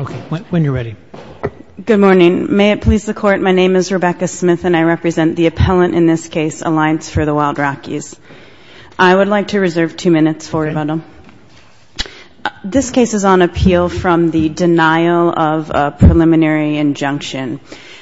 Okay, when you're ready. Good morning. May it please the court, my name is Rebecca Smith and I represent the appellant in this case, Alliance for the Wild Rockies. I would like to reserve two minutes for rebuttal. This case is on appeal from the denial of a preliminary injunction.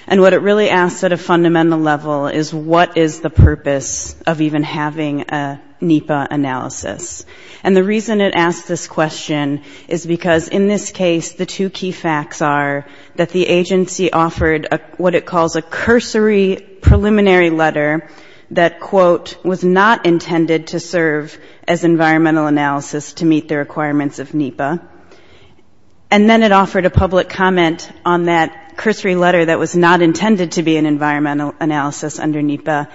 And what it really asks at a fundamental level is what is the purpose of even having a NEPA analysis? And the reason it asks this question is because in this case the two key facts are that the agency offered what it calls a cursory preliminary letter that, quote, was not intended to serve as environmental analysis to meet the requirements of NEPA. And then it offered a public comment on that cursory letter that was not intended to be an environmental analysis under NEPA.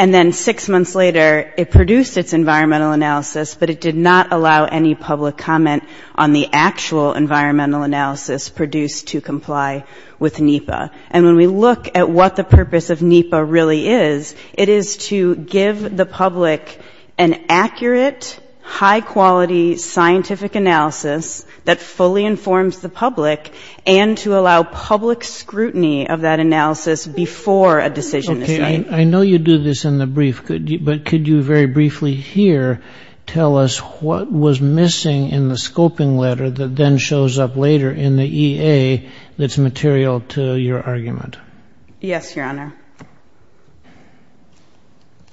And then six months later it produced its environmental analysis, but it did not allow any public comment on the actual environmental analysis produced to comply with NEPA. And when we look at what the purpose of NEPA really is, it is to give the public an accurate, high-quality, scientific analysis that fully informs the public and to allow public scrutiny of that analysis before a decision is made. I know you do this in the brief, but could you very briefly here tell us what was missing in the scoping letter that then shows up later in the EA that's material to your argument? Yes, Your Honor.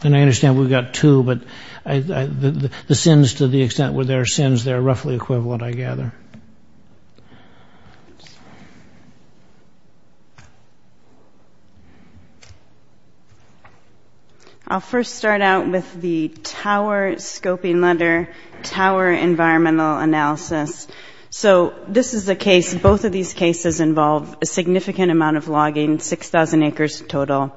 And I understand we've got two, but the sins, to the extent where there are sins, they're roughly equivalent, I gather. I'll first start out with the tower scoping letter, tower environmental analysis. So this is a case, both of these cases involve a significant amount of logging, 6,000 acres total,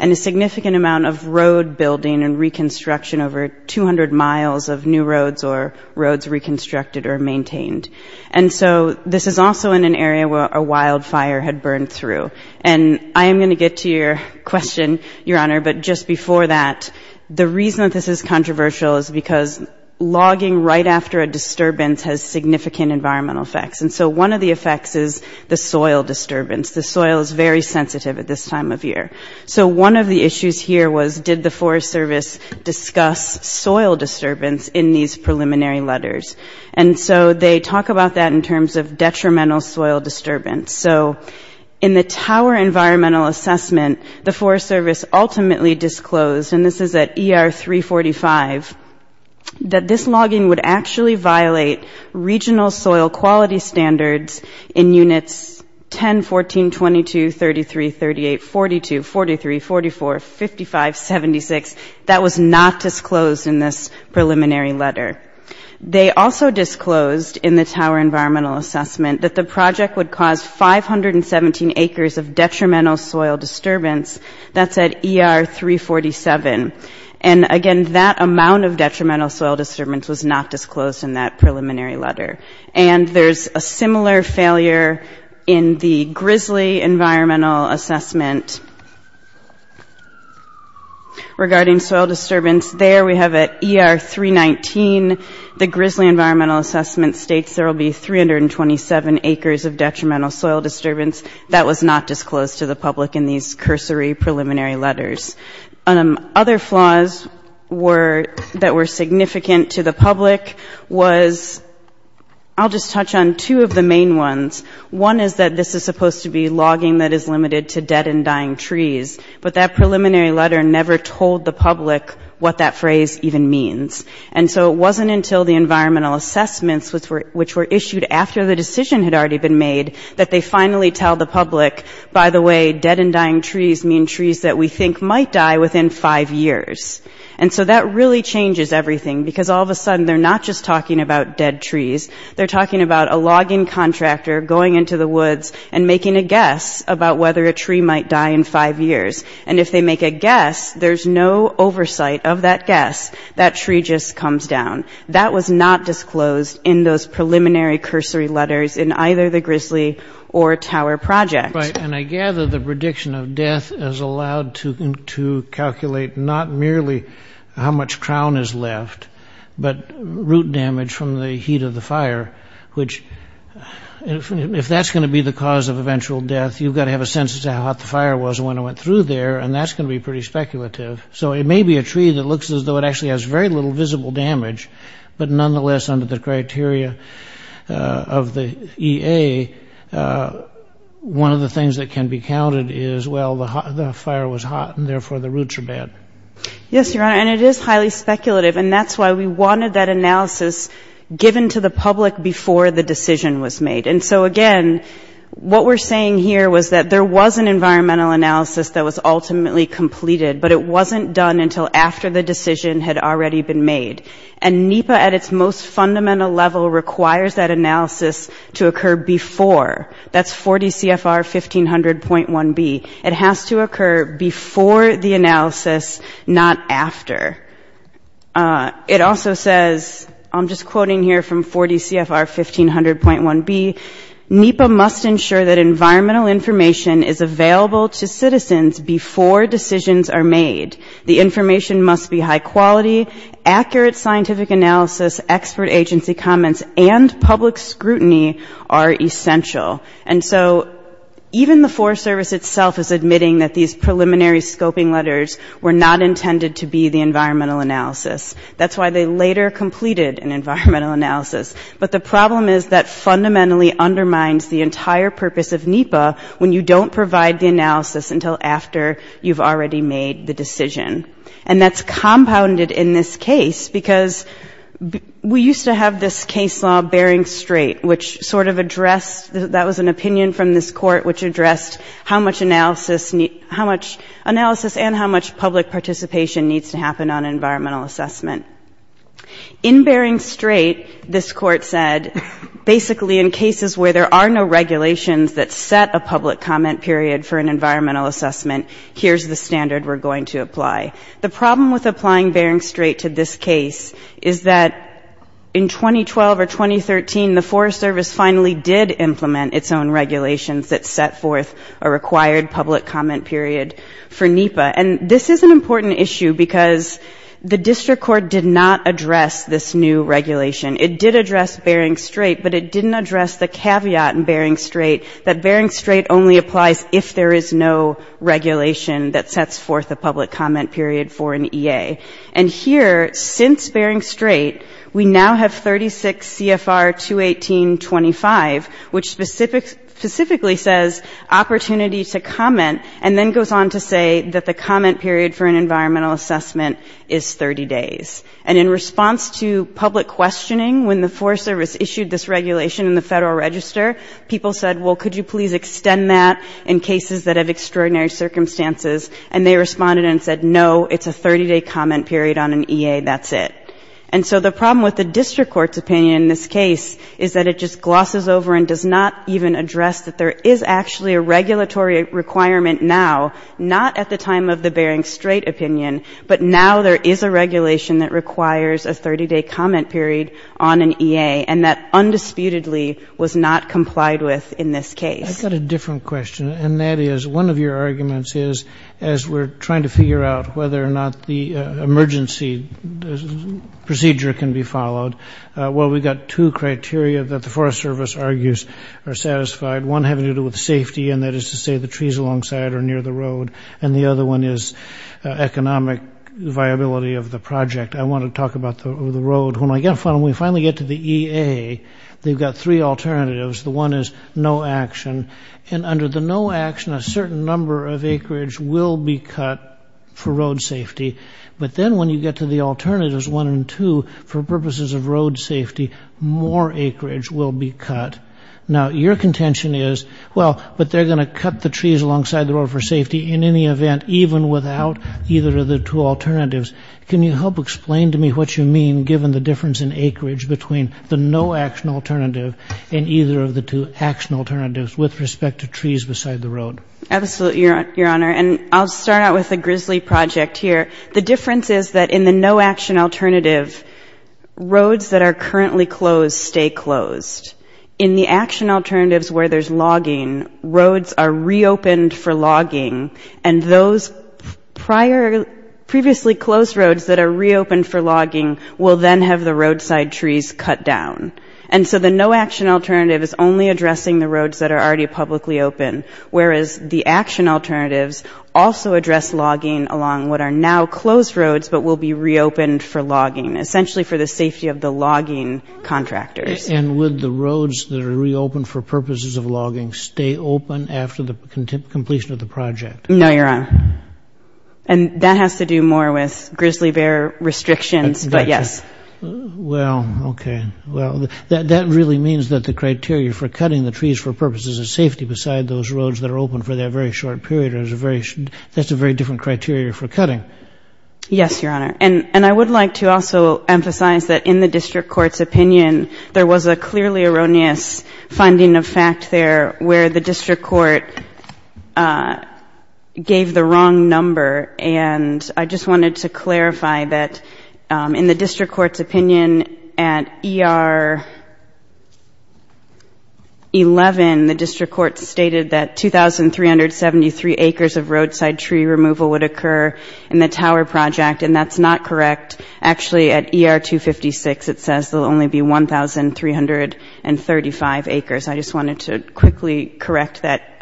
and a significant amount of road building and reconstruction over 200 miles of new roads or roads reconstructed or maintained. And so this is also in an area where a wildfire had burned through. And I am going to get to your question, Your Honor, but just before that, the reason that this is controversial is because logging right after a disturbance has significant environmental effects. And so one of the effects is the soil disturbance. The soil is very sensitive at this time of year. So one of the issues here was, did the Forest Service discuss soil disturbance in these preliminary letters? And so they talk about that in terms of detrimental soil disturbance. So in the tower environmental assessment, the Forest Service ultimately disclosed, and this is at ER 345, that this logging would actually violate regional soil quality standards in units 10, 14, 22, 33, 38, 42, 43, 44, 55, 76. That was not disclosed in this preliminary letter. They also disclosed in the tower environmental assessment that the project would cause 517 acres of detrimental soil disturbance. That's at ER 347. And again, that amount of detrimental soil disturbance was not disclosed in that preliminary letter. And there's a similar failure in the Grizzly environmental assessment regarding soil disturbance. There we have at ER 319, the Grizzly environmental assessment states there will be 327 acres of detrimental soil disturbance. That was not disclosed to the public in these cursory preliminary letters. Other flaws that were significant to the public was, I'll just touch on two of the main ones. One is that this is supposed to be logging that is limited to dead and dying trees. But that preliminary letter never told the public what that phrase even means. And so it wasn't until the environmental assessments, which were issued after the decision had already been made, that they finally tell the public, by the way, dead and dying trees mean trees that we think might die within five years. And so that really changes everything, because all of a sudden they're not just talking about dead trees. They're talking about a logging contractor going into the woods and making a guess about whether a tree might die in five years. And if they make a guess, there's no oversight of that guess. That tree just comes down. That was not disclosed in those preliminary cursory letters in either the Grizzly or Tower Project. Right, and I gather the prediction of death is allowed to calculate not merely how much crown is left, but root damage from the heat of the fire, which, if that's going to be the cause of eventual death, you've got to have a sense as to how hot the fire was when it went through there, and that's going to be pretty speculative. So it may be a tree that looks as though it actually has very little visible damage, but nonetheless, under the criteria of the EA, one of the things that can be counted is, well, the fire was hot, and therefore the roots are bad. Yes, Your Honor, and it is highly speculative, and that's why we wanted that analysis given to the public before the decision was made. And so, again, what we're saying here was that there was an environmental analysis that was ultimately completed, but it wasn't done until after the decision had already been made. And NEPA, at its most fundamental level, requires that analysis to occur before. That's 4 DCFR 1500.1B. It has to occur before the analysis, not after. It also says, I'm just quoting here from 4 DCFR 1500.1B, NEPA must ensure that environmental information is available to citizens before decisions are made. The information must be high quality, accurate scientific analysis, expert agency comments, and public scrutiny are essential. And so even the Forest Service itself is admitting that these preliminary scoping letters were not intended to be the environmental analysis. That's why they later completed an environmental analysis. But the problem is that fundamentally undermines the entire purpose of NEPA when you don't provide the analysis until after you've already made the decision. And that's compounded in this case, because we used to have this case law bearing straight, which sort of addressed, that was an opinion from this court, which addressed how much analysis and how much public participation needs to happen on environmental assessment. In bearing straight, this court said, basically in cases where there are no regulations that set a public comment period for an environmental assessment, here's the standard we're going to apply. The problem with applying bearing straight to this case is that in 2012 or 2013, the Forest Service finally did implement its own regulations that set forth a required public comment period for NEPA. And this is an important issue, because the district court did not address this new regulation. It did address bearing straight, but it didn't address the caveat in bearing straight that bearing straight only applies if there is no regulation that sets forth a public comment period for an EA. And here, since bearing straight, we now have 36 CFR 218.25, which specifically says opportunity to comment, and then goes on to say that the comment period for an environmental assessment is 30 days. And in response to public questioning when the Forest Service issued this regulation in the Federal Register, people said, well, could you please extend that in cases that have extraordinary circumstances? And they responded and said, no, it's a 30-day comment period on an EA, that's it. And so the problem with the district court's opinion in this case is that it just glosses over and does not even address that there is actually a regulatory requirement now, not at the time of the bearing straight opinion, but now there is a regulation that requires a 30-day comment period on an EA, and that undisputedly was not complied with in this case. I've got a different question, and that is, one of your arguments is, as we're trying to figure out whether or not the emergency procedure can be followed, well, we've got two criteria that the Forest Service argues are satisfied, one having to do with safety, and that is to say the trees alongside or near the road, and the other one is economic viability of the project. I want to talk about the road, when we finally get to the EA, they've got three alternatives. The one is no action, and under the no action, a certain number of acreage will be cut for road safety, but then when you get to the alternatives, one and two, for purposes of road safety, more acreage will be cut. Now, your contention is, well, but they're going to cut the trees alongside the road for safety in any event, even without either of the two alternatives. Can you help explain to me what you mean, given the difference in acreage between the no action alternative and either of the two action alternatives with respect to trees beside the road? Absolutely, Your Honor, and I'll start out with a grisly project here. The difference is that in the no action alternative, roads that are currently closed stay closed. In the action alternatives where there's logging, roads are reopened for logging, and those previously closed roads that are reopened for logging will then have the roadside trees cut down. And so the no action alternative is only addressing the roads that are already publicly open, whereas the action alternatives also address logging along what are now closed roads, but will be reopened for logging, essentially for the safety of the logging contractors. And would the roads that are reopened for purposes of logging stay open after the completion of the project? No, Your Honor, and that has to do more with grizzly bear restrictions, but yes. Well, okay, well, that really means that the criteria for cutting the trees for purposes of safety beside those roads that are open for that very short period, that's a very different criteria for cutting. Yes, Your Honor, and I would like to also emphasize that in the district court's opinion, there was a clearly erroneous finding of fact there where the district court gave the wrong number, and I just wanted to clarify that in the district court's opinion at ER 11, the district court stated that 2,373 acres of roadside tree removal would occur in the tower project, and that's not correct. Actually, at ER 256, it says there will only be 1,335 acres. I just wanted to quickly correct that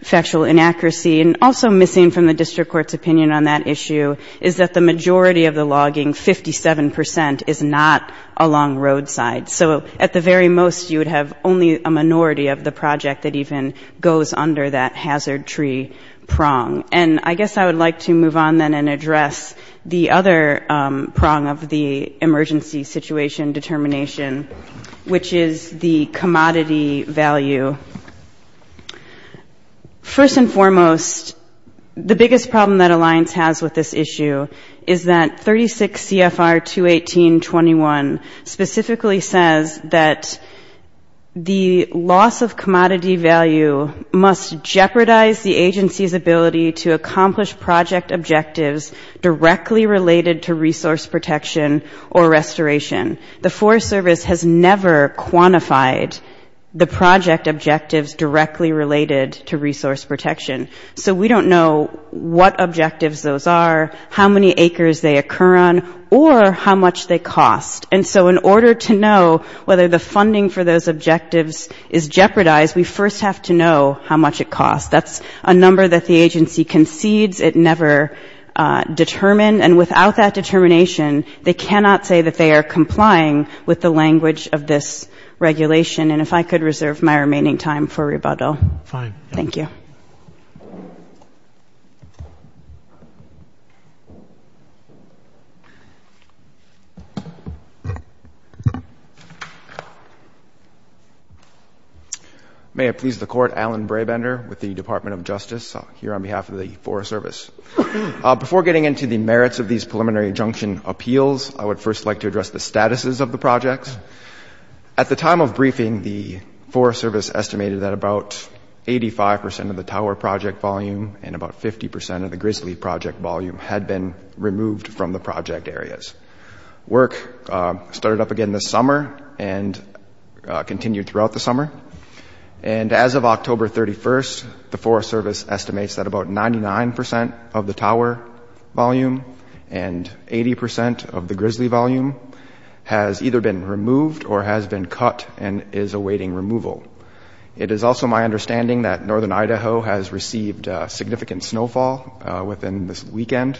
factual inaccuracy. And also missing from the district court's opinion on that issue is that the majority of the logging, 57 percent, is not along roadside. So at the very most, you would have only a minority of the project that even goes under that hazard tree prong. And I guess I would like to move on then and address the other prong of the emergency situation determination, which is the commodity value. First and foremost, the biggest problem that Alliance has with this issue is that 36 CFR 218.21 specifically says that the loss of commodity value must jeopardize the agency's ability to maintain the property to accomplish project objectives directly related to resource protection or restoration. The Forest Service has never quantified the project objectives directly related to resource protection. So we don't know what objectives those are, how many acres they occur on, or how much they cost. And so in order to know whether the funding for those objectives is jeopardized, we first have to know how much it costs. That's a number that the agency concedes, it never determined, and without that determination, they cannot say that they are complying with the language of this regulation. And if I could reserve my remaining time for rebuttal. Thank you. May it please the Court, Alan Brabender with the Department of Justice here on behalf of the Forest Service. Before getting into the merits of these preliminary injunction appeals, I would first like to address the statuses of the projects. At the time of briefing, the Forest Service estimated that about 85 percent of the tower project volume and about 50 percent of the grizzly project volume had been removed from the project areas. Work started up again this summer and continued throughout the summer. And as of October 31st, the Forest Service estimates that about 99 percent of the tower volume and 80 percent of the grizzly volume has either been removed or has been cut and is awaiting removal. It is also my understanding that northern Idaho has received significant snowfall within this weekend,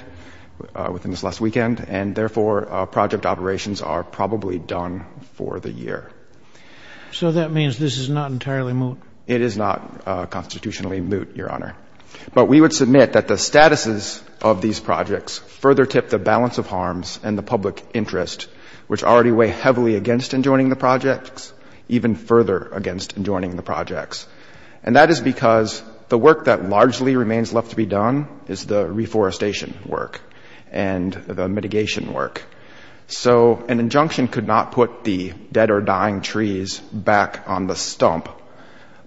within this last weekend, and therefore project operations are probably done for the year. So that means this is not entirely moot? It is not constitutionally moot, Your Honor. But we would submit that the statuses of these projects further tip the balance of harms and the public interest, which already weigh heavily against enjoining the projects, even further against enjoining the projects. And I would like to address the status of the mitigation work. So an injunction could not put the dead or dying trees back on the stump,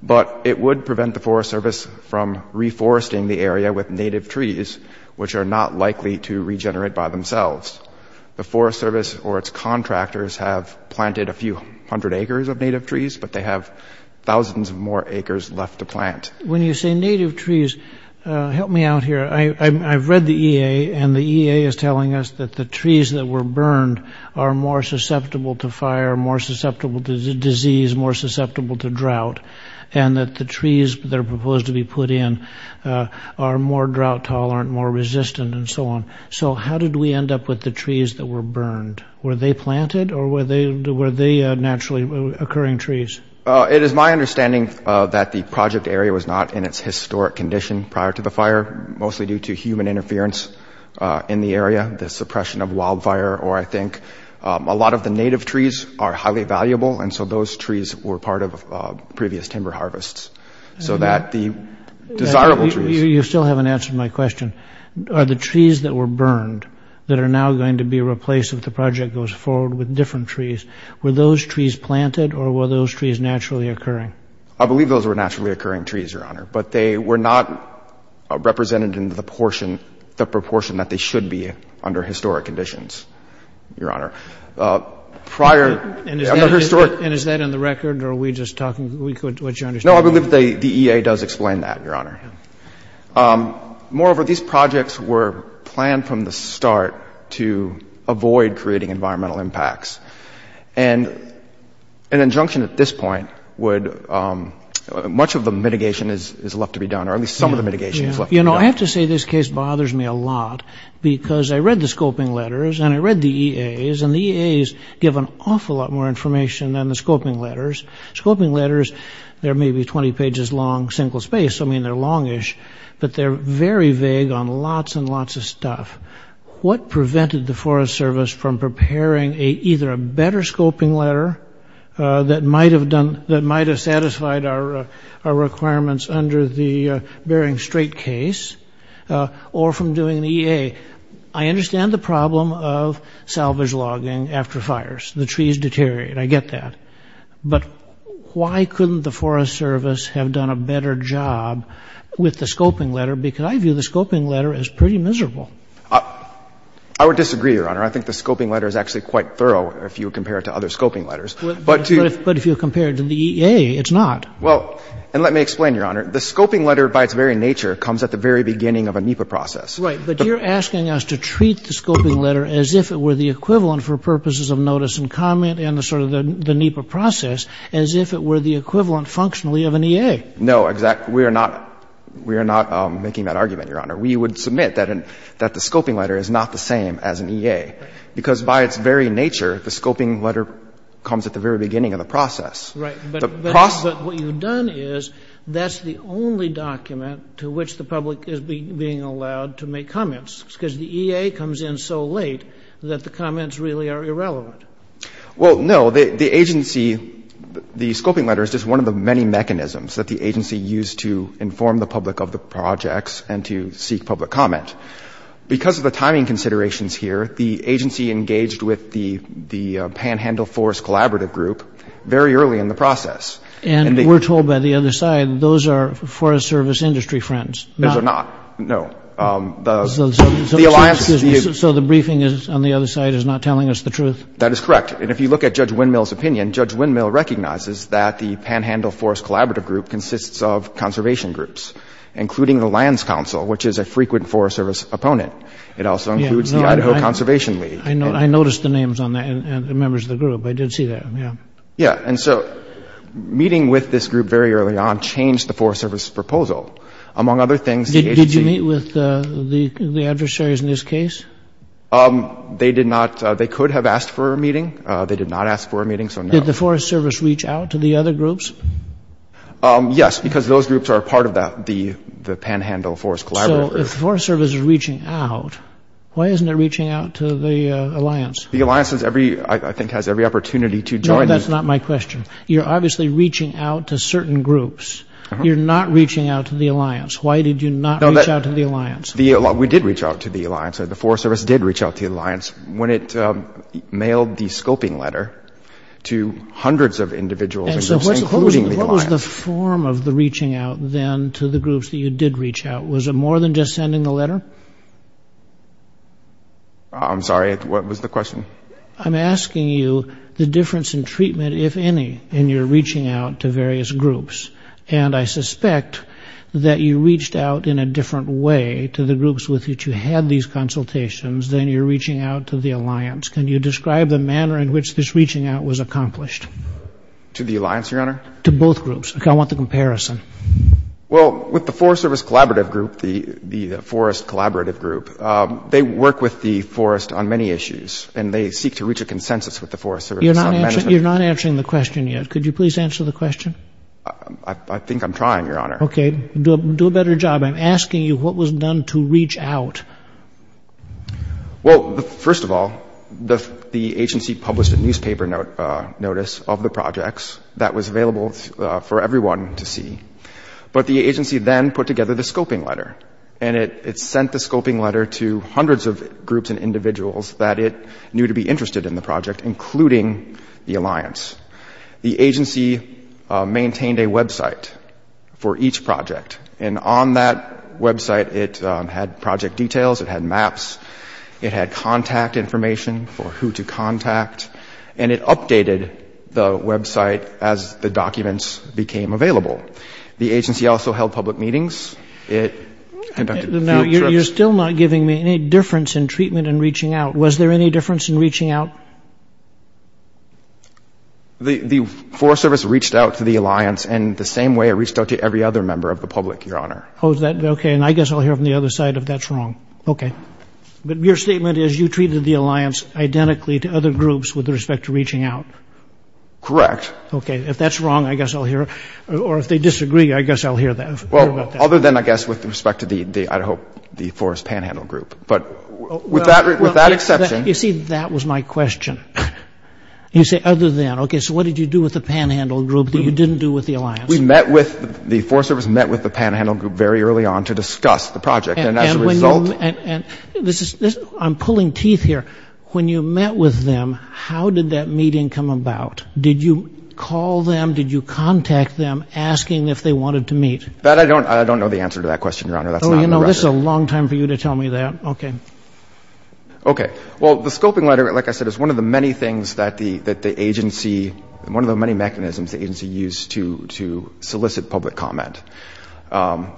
but it would prevent the Forest Service from reforesting the area with native trees, which are not likely to regenerate by themselves. The Forest Service or its contractors have planted a few hundred acres of native trees, but they have thousands of more acres left to plant. When you say native trees, help me out here. I've read the EA, and the EA is telling us that the trees that were burned are more susceptible to fire, more susceptible to disease, more susceptible to drought, and that the trees that are proposed to be put in are more drought tolerant, more resistant, and so on. So how did we end up with the trees that were burned? Were they planted, or were they naturally occurring trees? It is my understanding that the project area was not in its historic condition prior to the fire, mostly due to human interference in the area, the suppression of wildfire, or I think a lot of the native trees are highly valuable, and so those trees were part of previous timber harvests. You still haven't answered my question. Are the trees that were burned that are now going to be replaced if the project goes forward with different trees, were those trees planted, or were those trees naturally occurring? But they were not represented in the proportion that they should be under historic conditions, Your Honor. And is that in the record, or are we just talking what you understand? No, I believe the EA does explain that, Your Honor. Moreover, these projects were planned from the start to avoid creating environmental impacts, and an injunction at this point would, much of the mitigation is left to be done, or at least some of the mitigation is left to be done. You know, I have to say this case bothers me a lot, because I read the scoping letters, and I read the EAs, and the EAs give an awful lot more information than the scoping letters. Scoping letters, they're maybe 20 pages long, single-spaced, I mean, they're longish, but they're very vague on lots and lots of stuff. What prevented the Forest Service from preparing either a better scoping letter that might have satisfied our requirements under the Bering Strait case, or from doing the EA? I understand the problem of salvage logging after fires, the trees deteriorate, I get that. But why couldn't the Forest Service have done a better job with the scoping letter, because I view the scoping letter as pretty miserable. I would disagree, Your Honor. I think the scoping letter is actually quite thorough if you compare it to other scoping letters. But if you compare it to the EA, it's not. Well, and let me explain, Your Honor. The scoping letter, by its very nature, comes at the very beginning of a NEPA process. Right. But you're asking us to treat the scoping letter as if it were the equivalent for purposes of notice and comment and sort of the NEPA process, as if it were the equivalent functionally of an EA. No, exactly. We are not making that argument, Your Honor. We would submit that the scoping letter is not the same as an EA, because by its very nature, the scoping letter comes at the very beginning of the process. Right. But what you've done is that's the only document to which the public is being allowed to make comments, because the EA comes in so late that the comments really are irrelevant. Well, no. The agency, the scoping letter is just one of the many mechanisms that the agency used to inform the public of the projects and to seek public comment. Because of the timing considerations here, the agency engaged with the Panhandle Forest Collaborative Group very early in the process. And we're told by the other side those are Forest Service industry friends. Those are not. No. So the briefing on the other side is not telling us the truth? That is correct. And if you look at Judge Windmill's opinion, Judge Windmill recognizes that the Panhandle Forest Collaborative Group consists of conservation groups, including the Lands Council, which is a frequent Forest Service opponent. It also includes the Idaho Conservation League. I noticed the names on that and the members of the group. I did see that. Yeah. Yeah. And so meeting with this group very early on changed the Forest Service proposal. Among other things, the agency— Did you meet with the adversaries in this case? They did not. They could have asked for a meeting. They did not ask for a meeting, so no. Did the Forest Service reach out to the other groups? Yes, because those groups are a part of the Panhandle Forest Collaborative Group. So if the Forest Service is reaching out, why isn't it reaching out to the alliance? The alliance, I think, has every opportunity to join the— No, that's not my question. You're obviously reaching out to certain groups. You're not reaching out to the alliance. Why did you not reach out to the alliance? We did reach out to the alliance. The Forest Service did reach out to the alliance when it mailed the scoping letter to hundreds of individuals, including the alliance. And so what was the form of the reaching out then to the groups that you did reach out? Was it more than just sending the letter? I'm sorry. What was the question? I'm asking you the difference in treatment, if any, in your reaching out to various groups. And I suspect that you reached out in a different way to the groups with which you had these consultations than your reaching out to the alliance. Can you describe the manner in which this reaching out was accomplished? To the alliance, Your Honor? To both groups. I want the comparison. Well, with the Forest Service Collaborative Group, the Forest Collaborative Group, they work with the forest on many issues, and they seek to reach a consensus with the Forest Service. You're not answering the question yet. Could you please answer the question? I think I'm trying, Your Honor. Okay. Do a better job. I'm asking you what was done to reach out. Well, first of all, the agency published a newspaper notice of the projects that was available for everyone to see. But the agency then put together the scoping letter, and it sent the scoping letter to hundreds of groups and individuals that it knew to be interested in the project, including the alliance. The agency maintained a website for each project, and on that website it had project details, it had maps, it had contact information for who to contact, and it updated the website as the documents became available. The agency also held public meetings. It conducted field trips. Now, you're still not giving me any difference in treatment and reaching out. Was there any difference in reaching out? The Forest Service reached out to the alliance in the same way it reached out to every other member of the public, Your Honor. Okay. And I guess I'll hear from the other side if that's wrong. Okay. But your statement is you treated the alliance identically to other groups with respect to reaching out. Correct. Okay. If that's wrong, I guess I'll hear it. Or if they disagree, I guess I'll hear about that. Well, other than, I guess, with respect to the, I hope, the Forest Panhandle Group. But with that exception. You see, that was my question. You say other than. Okay, so what did you do with the Panhandle Group that you didn't do with the alliance? We met with, the Forest Service met with the Panhandle Group very early on to discuss the project. And as a result. I'm pulling teeth here. When you met with them, how did that meeting come about? Did you call them? Did you contact them asking if they wanted to meet? I don't know the answer to that question, Your Honor. Oh, you know, this is a long time for you to tell me that. Okay. Okay. Well, the scoping letter, like I said, is one of the many things that the agency, one of the many mechanisms the agency used to solicit public comment.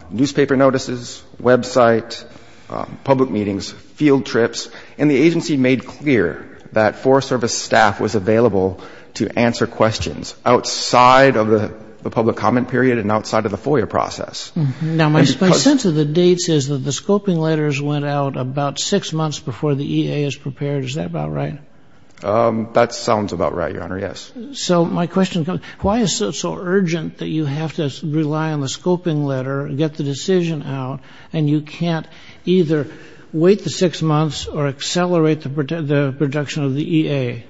Newspaper notices, website, public meetings, field trips. And the agency made clear that Forest Service staff was available to answer questions outside of the public comment period and outside of the FOIA process. Now, my sense of the dates is that the scoping letters went out about six months before the EA is prepared. Is that about right? That sounds about right, Your Honor, yes. So my question, why is it so urgent that you have to rely on the scoping letter, get the decision out, and you can't either wait the six months or accelerate the production of the EA?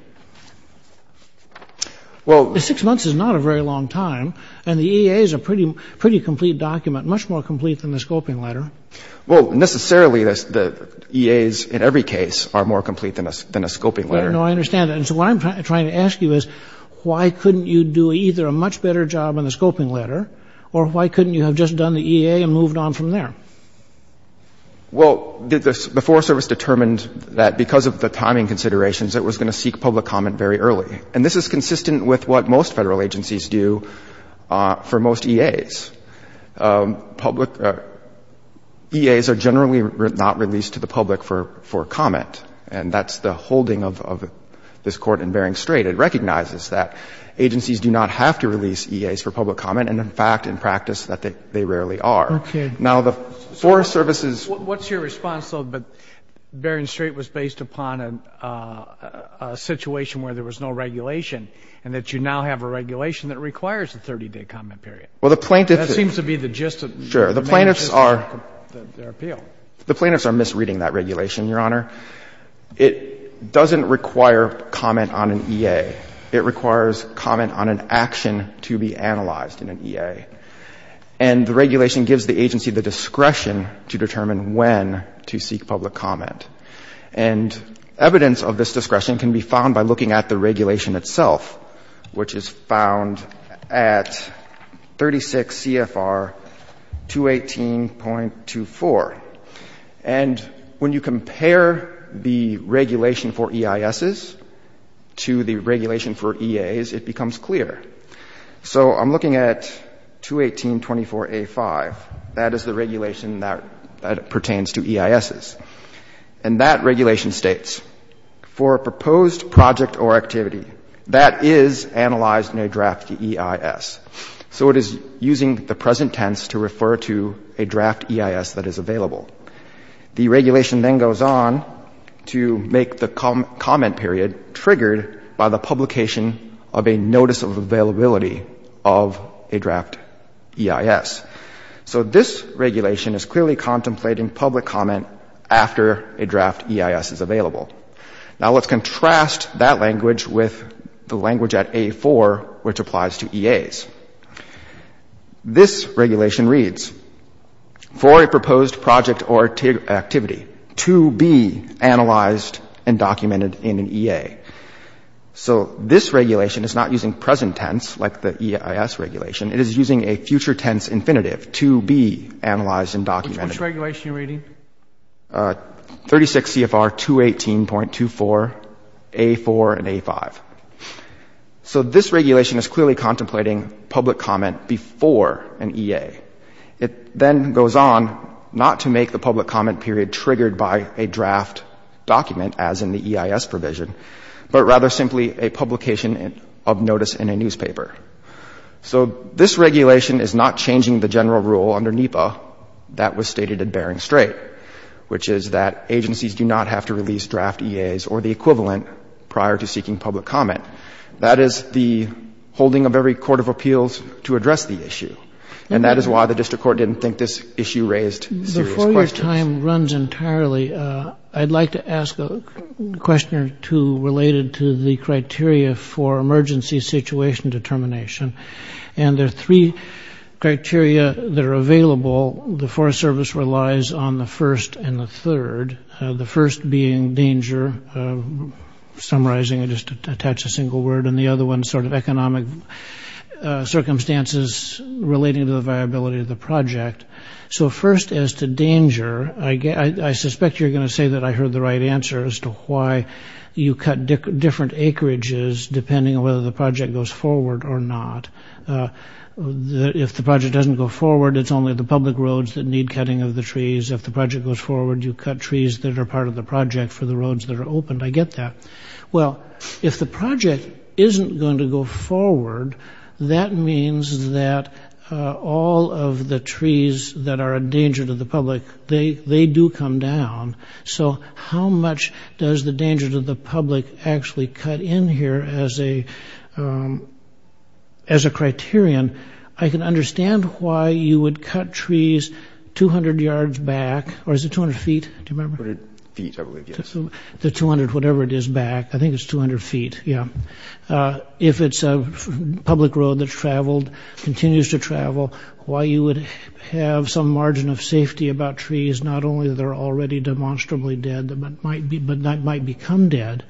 Well, the six months is not a very long time, and the EA is a pretty complete document, much more complete than the scoping letter. Well, necessarily, the EAs in every case are more complete than a scoping letter. No, I understand that. And so what I'm trying to ask you is why couldn't you do either a much better job on the scoping letter or why couldn't you have just done the EA and moved on from there? Well, the Forest Service determined that because of the timing considerations, it was going to seek public comment very early. And this is consistent with what most Federal agencies do for most EAs. Public EAs are generally not released to the public for comment, and that's the holding of this Court in Bering Strait. It recognizes that agencies do not have to release EAs for public comment, and in fact, in practice, that they rarely are. Okay. Now, the Forest Service's — What's your response, though, that Bering Strait was based upon a situation where there was no regulation and that you now have a regulation that requires a 30-day comment period? Well, the plaintiffs — That seems to be the gist of — Sure. The plaintiffs are —— their appeal. The plaintiffs are misreading that regulation, Your Honor. It doesn't require comment on an EA. It requires comment on an action to be analyzed in an EA. And the regulation gives the agency the discretion to determine when to seek public comment. And evidence of this discretion can be found by looking at the regulation itself, which is found at 36 CFR 218.24. And when you compare the regulation for EISs to the regulation for EAs, it becomes clear. So I'm looking at 218.24a.5. That is the regulation that pertains to EISs. And that regulation states, for a proposed project or activity, that is analyzed in a draft EIS. So it is using the present tense to refer to a draft EIS that is available. The regulation then goes on to make the comment period triggered by the publication of a notice of availability of a draft EIS. So this regulation is clearly contemplating public comment after a draft EIS is available. Now, let's contrast that language with the language at a4, which applies to EAs. This regulation reads, for a proposed project or activity, to be analyzed and documented in an EA. So this regulation is not using present tense, like the EIS regulation. It is using a future tense infinitive, to be analyzed and documented. Which regulation are you reading? 36 CFR 218.24a.4 and a5. So this regulation is clearly contemplating public comment before an EA. It then goes on not to make the public comment period triggered by a draft document, as in the EIS provision, but rather simply a publication of notice in a newspaper. So this regulation is not changing the general rule under NEPA that was stated at Bering Strait, which is that agencies do not have to release draft EAs or the equivalent prior to seeking public comment. That is the holding of every court of appeals to address the issue. And that is why the district court didn't think this issue raised serious questions. Before your time runs entirely, I'd like to ask a question or two related to the criteria for emergency situation determination. And there are three criteria that are available. The Forest Service relies on the first and the third. The first being danger. Summarizing, I'll just attach a single word. And the other one is sort of economic circumstances relating to the viability of the project. So first as to danger, I suspect you're going to say that I heard the right answer as to why you cut different acreages depending on whether the project goes forward or not. If the project doesn't go forward, it's only the public roads that need cutting of the trees. If the project goes forward, you cut trees that are part of the project for the roads that are open. I get that. Well, if the project isn't going to go forward, that means that all of the trees that are a danger to the public, they do come down. So how much does the danger to the public actually cut in here as a criterion? I can understand why you would cut trees 200 yards back, or is it 200 feet, do you remember? 200 feet, I believe, yes. The 200, whatever it is, back. I think it's 200 feet, yeah. If it's a public road that's traveled, continues to travel, why you would have some margin of safety about trees, not only they're already demonstrably dead, but might become dead,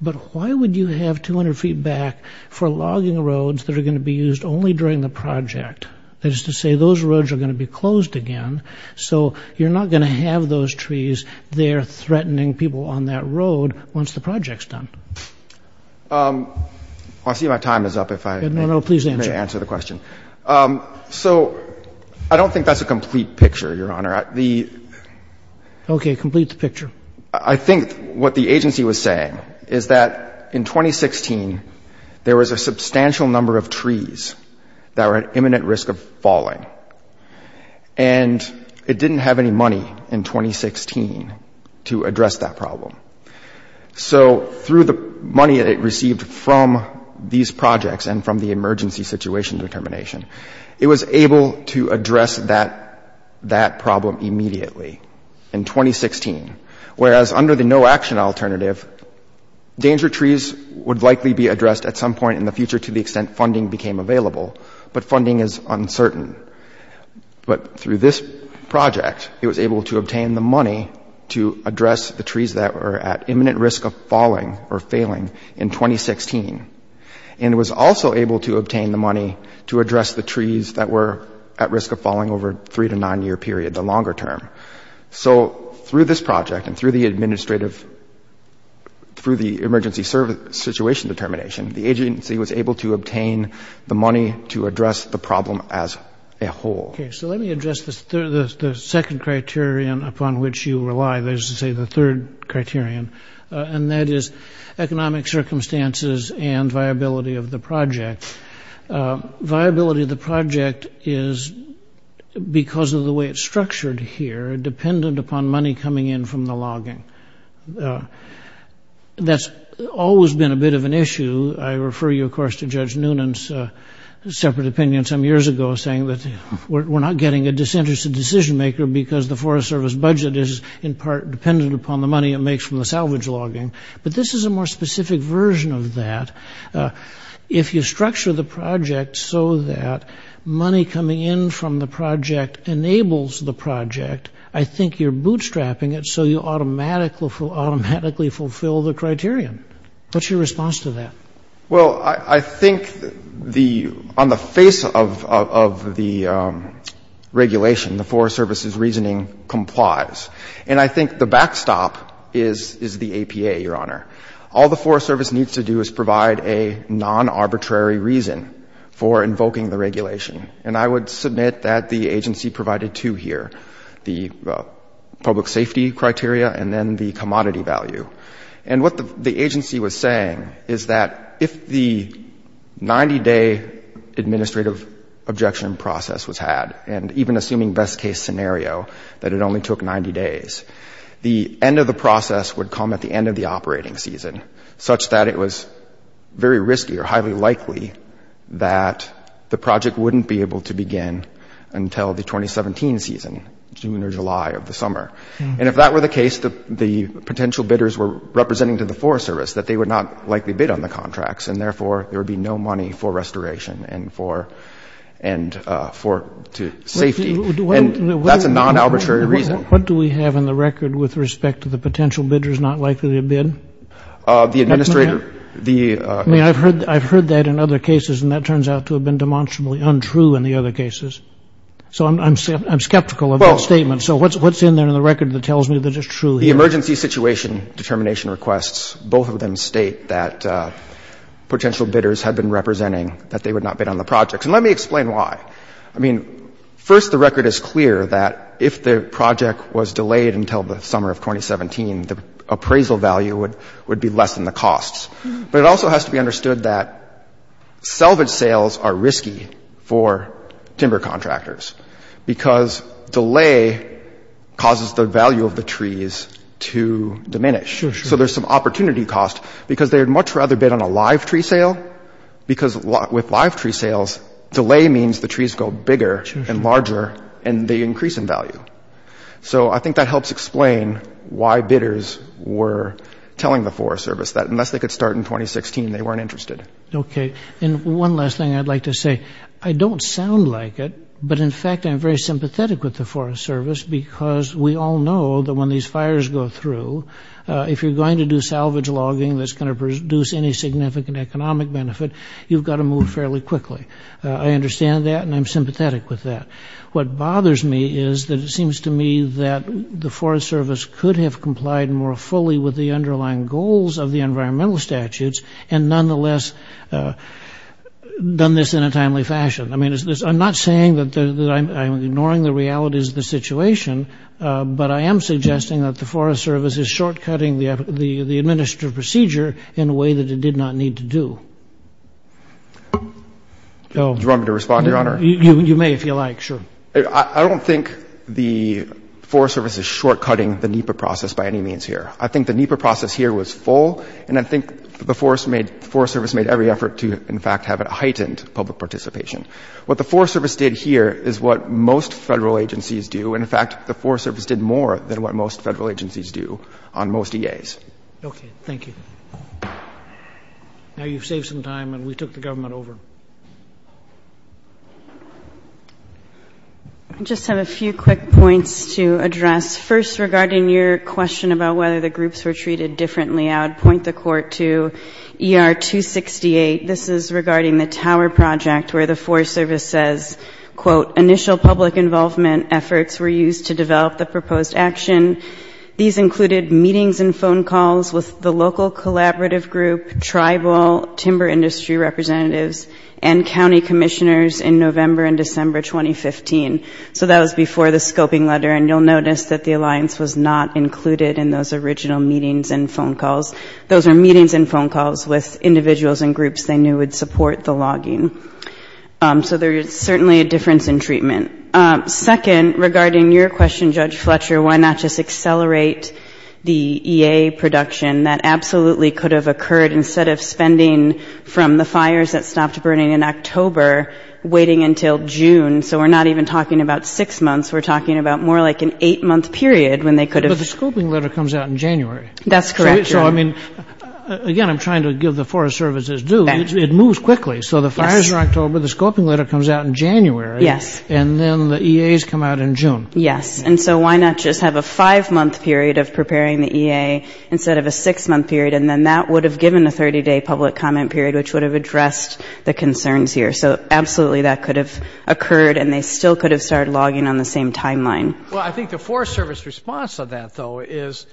but why would you have 200 feet back for logging roads that are going to be used only during the project? That is to say those roads are going to be closed again, so you're not going to have those trees there threatening people on that road once the project's done. I see my time is up if I may answer the question. No, no, please answer. So I don't think that's a complete picture, Your Honor. Okay, complete the picture. I think what the agency was saying is that in 2016 there was a substantial number of trees that were at imminent risk of falling, and it didn't have any money in 2016 to address that problem. So through the money that it received from these projects and from the emergency situation determination, it was able to address that problem immediately in 2016, whereas under the no-action alternative, danger trees would likely be addressed at some point in the future to the extent funding became available, but funding is uncertain. But through this project, it was able to obtain the money to address the trees that were at imminent risk of falling or failing in 2016, and it was also able to obtain the money to address the trees that were at risk of falling over a three- to nine-year period, the longer term. So through this project and through the emergency situation determination, the agency was able to obtain the money to address the problem as a whole. Okay, so let me address the second criterion upon which you rely, that is to say the third criterion, and that is economic circumstances and viability of the project. Viability of the project is, because of the way it's structured here, dependent upon money coming in from the logging. That's always been a bit of an issue. I refer you, of course, to Judge Noonan's separate opinion some years ago saying that we're not getting a disinterested decision-maker because the Forest Service budget is, in part, dependent upon the money it makes from the salvage logging. But this is a more specific version of that. If you structure the project so that money coming in from the project enables the project, I think you're bootstrapping it so you automatically fulfill the criterion. What's your response to that? Well, I think on the face of the regulation, the Forest Service's reasoning complies. And I think the backstop is the APA, Your Honor. All the Forest Service needs to do is provide a non-arbitrary reason for invoking the regulation. And I would submit that the agency provided two here, the public safety criteria and then the commodity value. And what the agency was saying is that if the 90-day administrative objection process was had, and even assuming best-case scenario, that it only took 90 days, the end of the process would come at the end of the operating season, such that it was very risky or highly likely that the project wouldn't be able to begin until the 2017 season, June or July of the summer. And if that were the case, the potential bidders were representing to the Forest Service that they would not likely bid on the contracts, and therefore there would be no money for restoration and for safety. And that's a non-arbitrary reason. What do we have in the record with respect to the potential bidders not likely to bid? The administrator. I mean, I've heard that in other cases, and that turns out to have been demonstrably untrue in the other cases. So I'm skeptical of that statement. So what's in there in the record that tells me that it's true here? The emergency situation determination requests, both of them state that potential bidders had been representing that they would not bid on the projects. And let me explain why. I mean, first, the record is clear that if the project was delayed until the summer of 2017, the appraisal value would be less than the costs. But it also has to be understood that salvage sales are risky for timber contractors because delay causes the value of the trees to diminish. So there's some opportunity cost because they would much rather bid on a live tree sale because with live tree sales, delay means the trees go bigger and larger and they increase in value. So I think that helps explain why bidders were telling the Forest Service that unless they could start in 2016, they weren't interested. Okay. And one last thing I'd like to say. I don't sound like it, but in fact, I'm very sympathetic with the Forest Service because we all know that when these fires go through, if you're going to do salvage logging that's going to produce any significant economic benefit, you've got to move fairly quickly. I understand that, and I'm sympathetic with that. What bothers me is that it seems to me that the Forest Service could have complied more fully with the underlying goals of the environmental statutes and nonetheless done this in a timely fashion. I mean, I'm not saying that I'm ignoring the realities of the situation, but I am suggesting that the Forest Service is short-cutting the administrative procedure in a way that it did not need to do. Do you want me to respond, Your Honor? You may, if you like. Sure. I don't think the Forest Service is short-cutting the NEPA process by any means here. I think the NEPA process here was full, and I think the Forest Service made every effort to, in fact, have a heightened public participation. What the Forest Service did here is what most federal agencies do. And, in fact, the Forest Service did more than what most federal agencies do on most EAs. Okay. Thank you. Now you've saved some time, and we took the government over. I just have a few quick points to address. First, regarding your question about whether the groups were treated differently, I would point the Court to ER 268. This is regarding the tower project where the Forest Service says, quote, initial public involvement efforts were used to develop the proposed action. These included meetings and phone calls with the local collaborative group, tribal timber industry representatives, and county commissioners in November and December 2015. So that was before the scoping letter, and you'll notice that the alliance was not included in those original meetings and phone calls. Those were meetings and phone calls with individuals and groups they knew would support the logging. So there is certainly a difference in treatment. Second, regarding your question, Judge Fletcher, why not just accelerate the EA production? That absolutely could have occurred instead of spending from the fires that stopped burning in October waiting until June. So we're not even talking about six months. We're talking about more like an eight-month period when they could have. But the scoping letter comes out in January. That's correct. So, I mean, again, I'm trying to give the Forest Service its due. It moves quickly. So the fires are in October. The scoping letter comes out in January. Yes. And then the EAs come out in June. Yes. And so why not just have a five-month period of preparing the EA instead of a six-month period, and then that would have given a 30-day public comment period, which would have addressed the concerns here. So absolutely that could have occurred, and they still could have started logging on the same timeline. Well, I think the Forest Service response to that, though, is,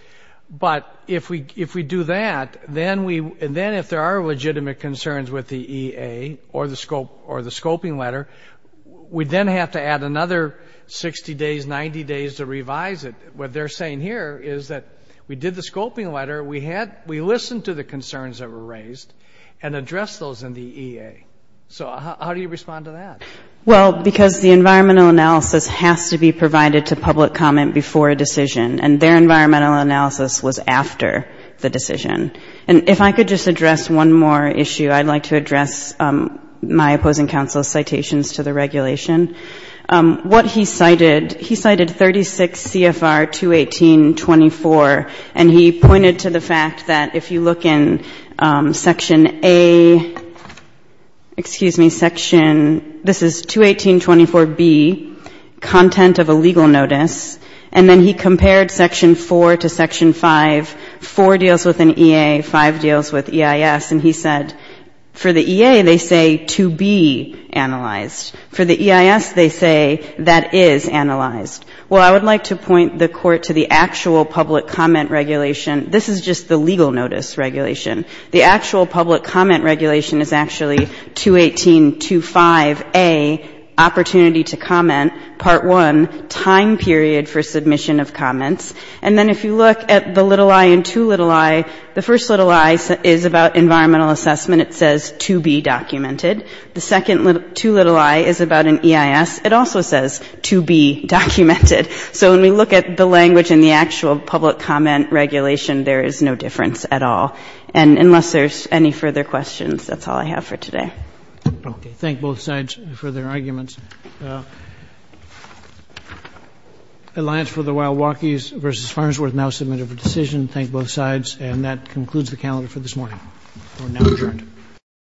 but if we do that, then if there are legitimate concerns with the EA or the scoping letter, we then have to add another 60 days, 90 days to revise it. What they're saying here is that we did the scoping letter. We listened to the concerns that were raised and addressed those in the EA. So how do you respond to that? Well, because the environmental analysis has to be provided to public comment before a decision, and their environmental analysis was after the decision. And if I could just address one more issue, I'd like to address my opposing counsel's citations to the regulation. What he cited, he cited 36 CFR 218.24, and he pointed to the fact that if you look in Section A, excuse me, this is 218.24B, content of a legal notice, and then he compared Section 4 to Section 5. Four deals with an EA, five deals with EIS, and he said for the EA they say to be analyzed. For the EIS they say that is analyzed. Well, I would like to point the Court to the actual public comment regulation. This is just the legal notice regulation. The actual public comment regulation is actually 218.25A, opportunity to comment, Part 1, time period for submission of comments. And then if you look at the little I and too little I, the first little I is about environmental assessment. It says to be documented. The second too little I is about an EIS. It also says to be documented. So when we look at the language in the actual public comment regulation, there is no difference at all. And unless there's any further questions, that's all I have for today. Okay. Thank both sides for their arguments. Alliance for the Wild Wokies v. Farnsworth now submitted for decision. Thank both sides. And that concludes the calendar for this morning. We're now adjourned.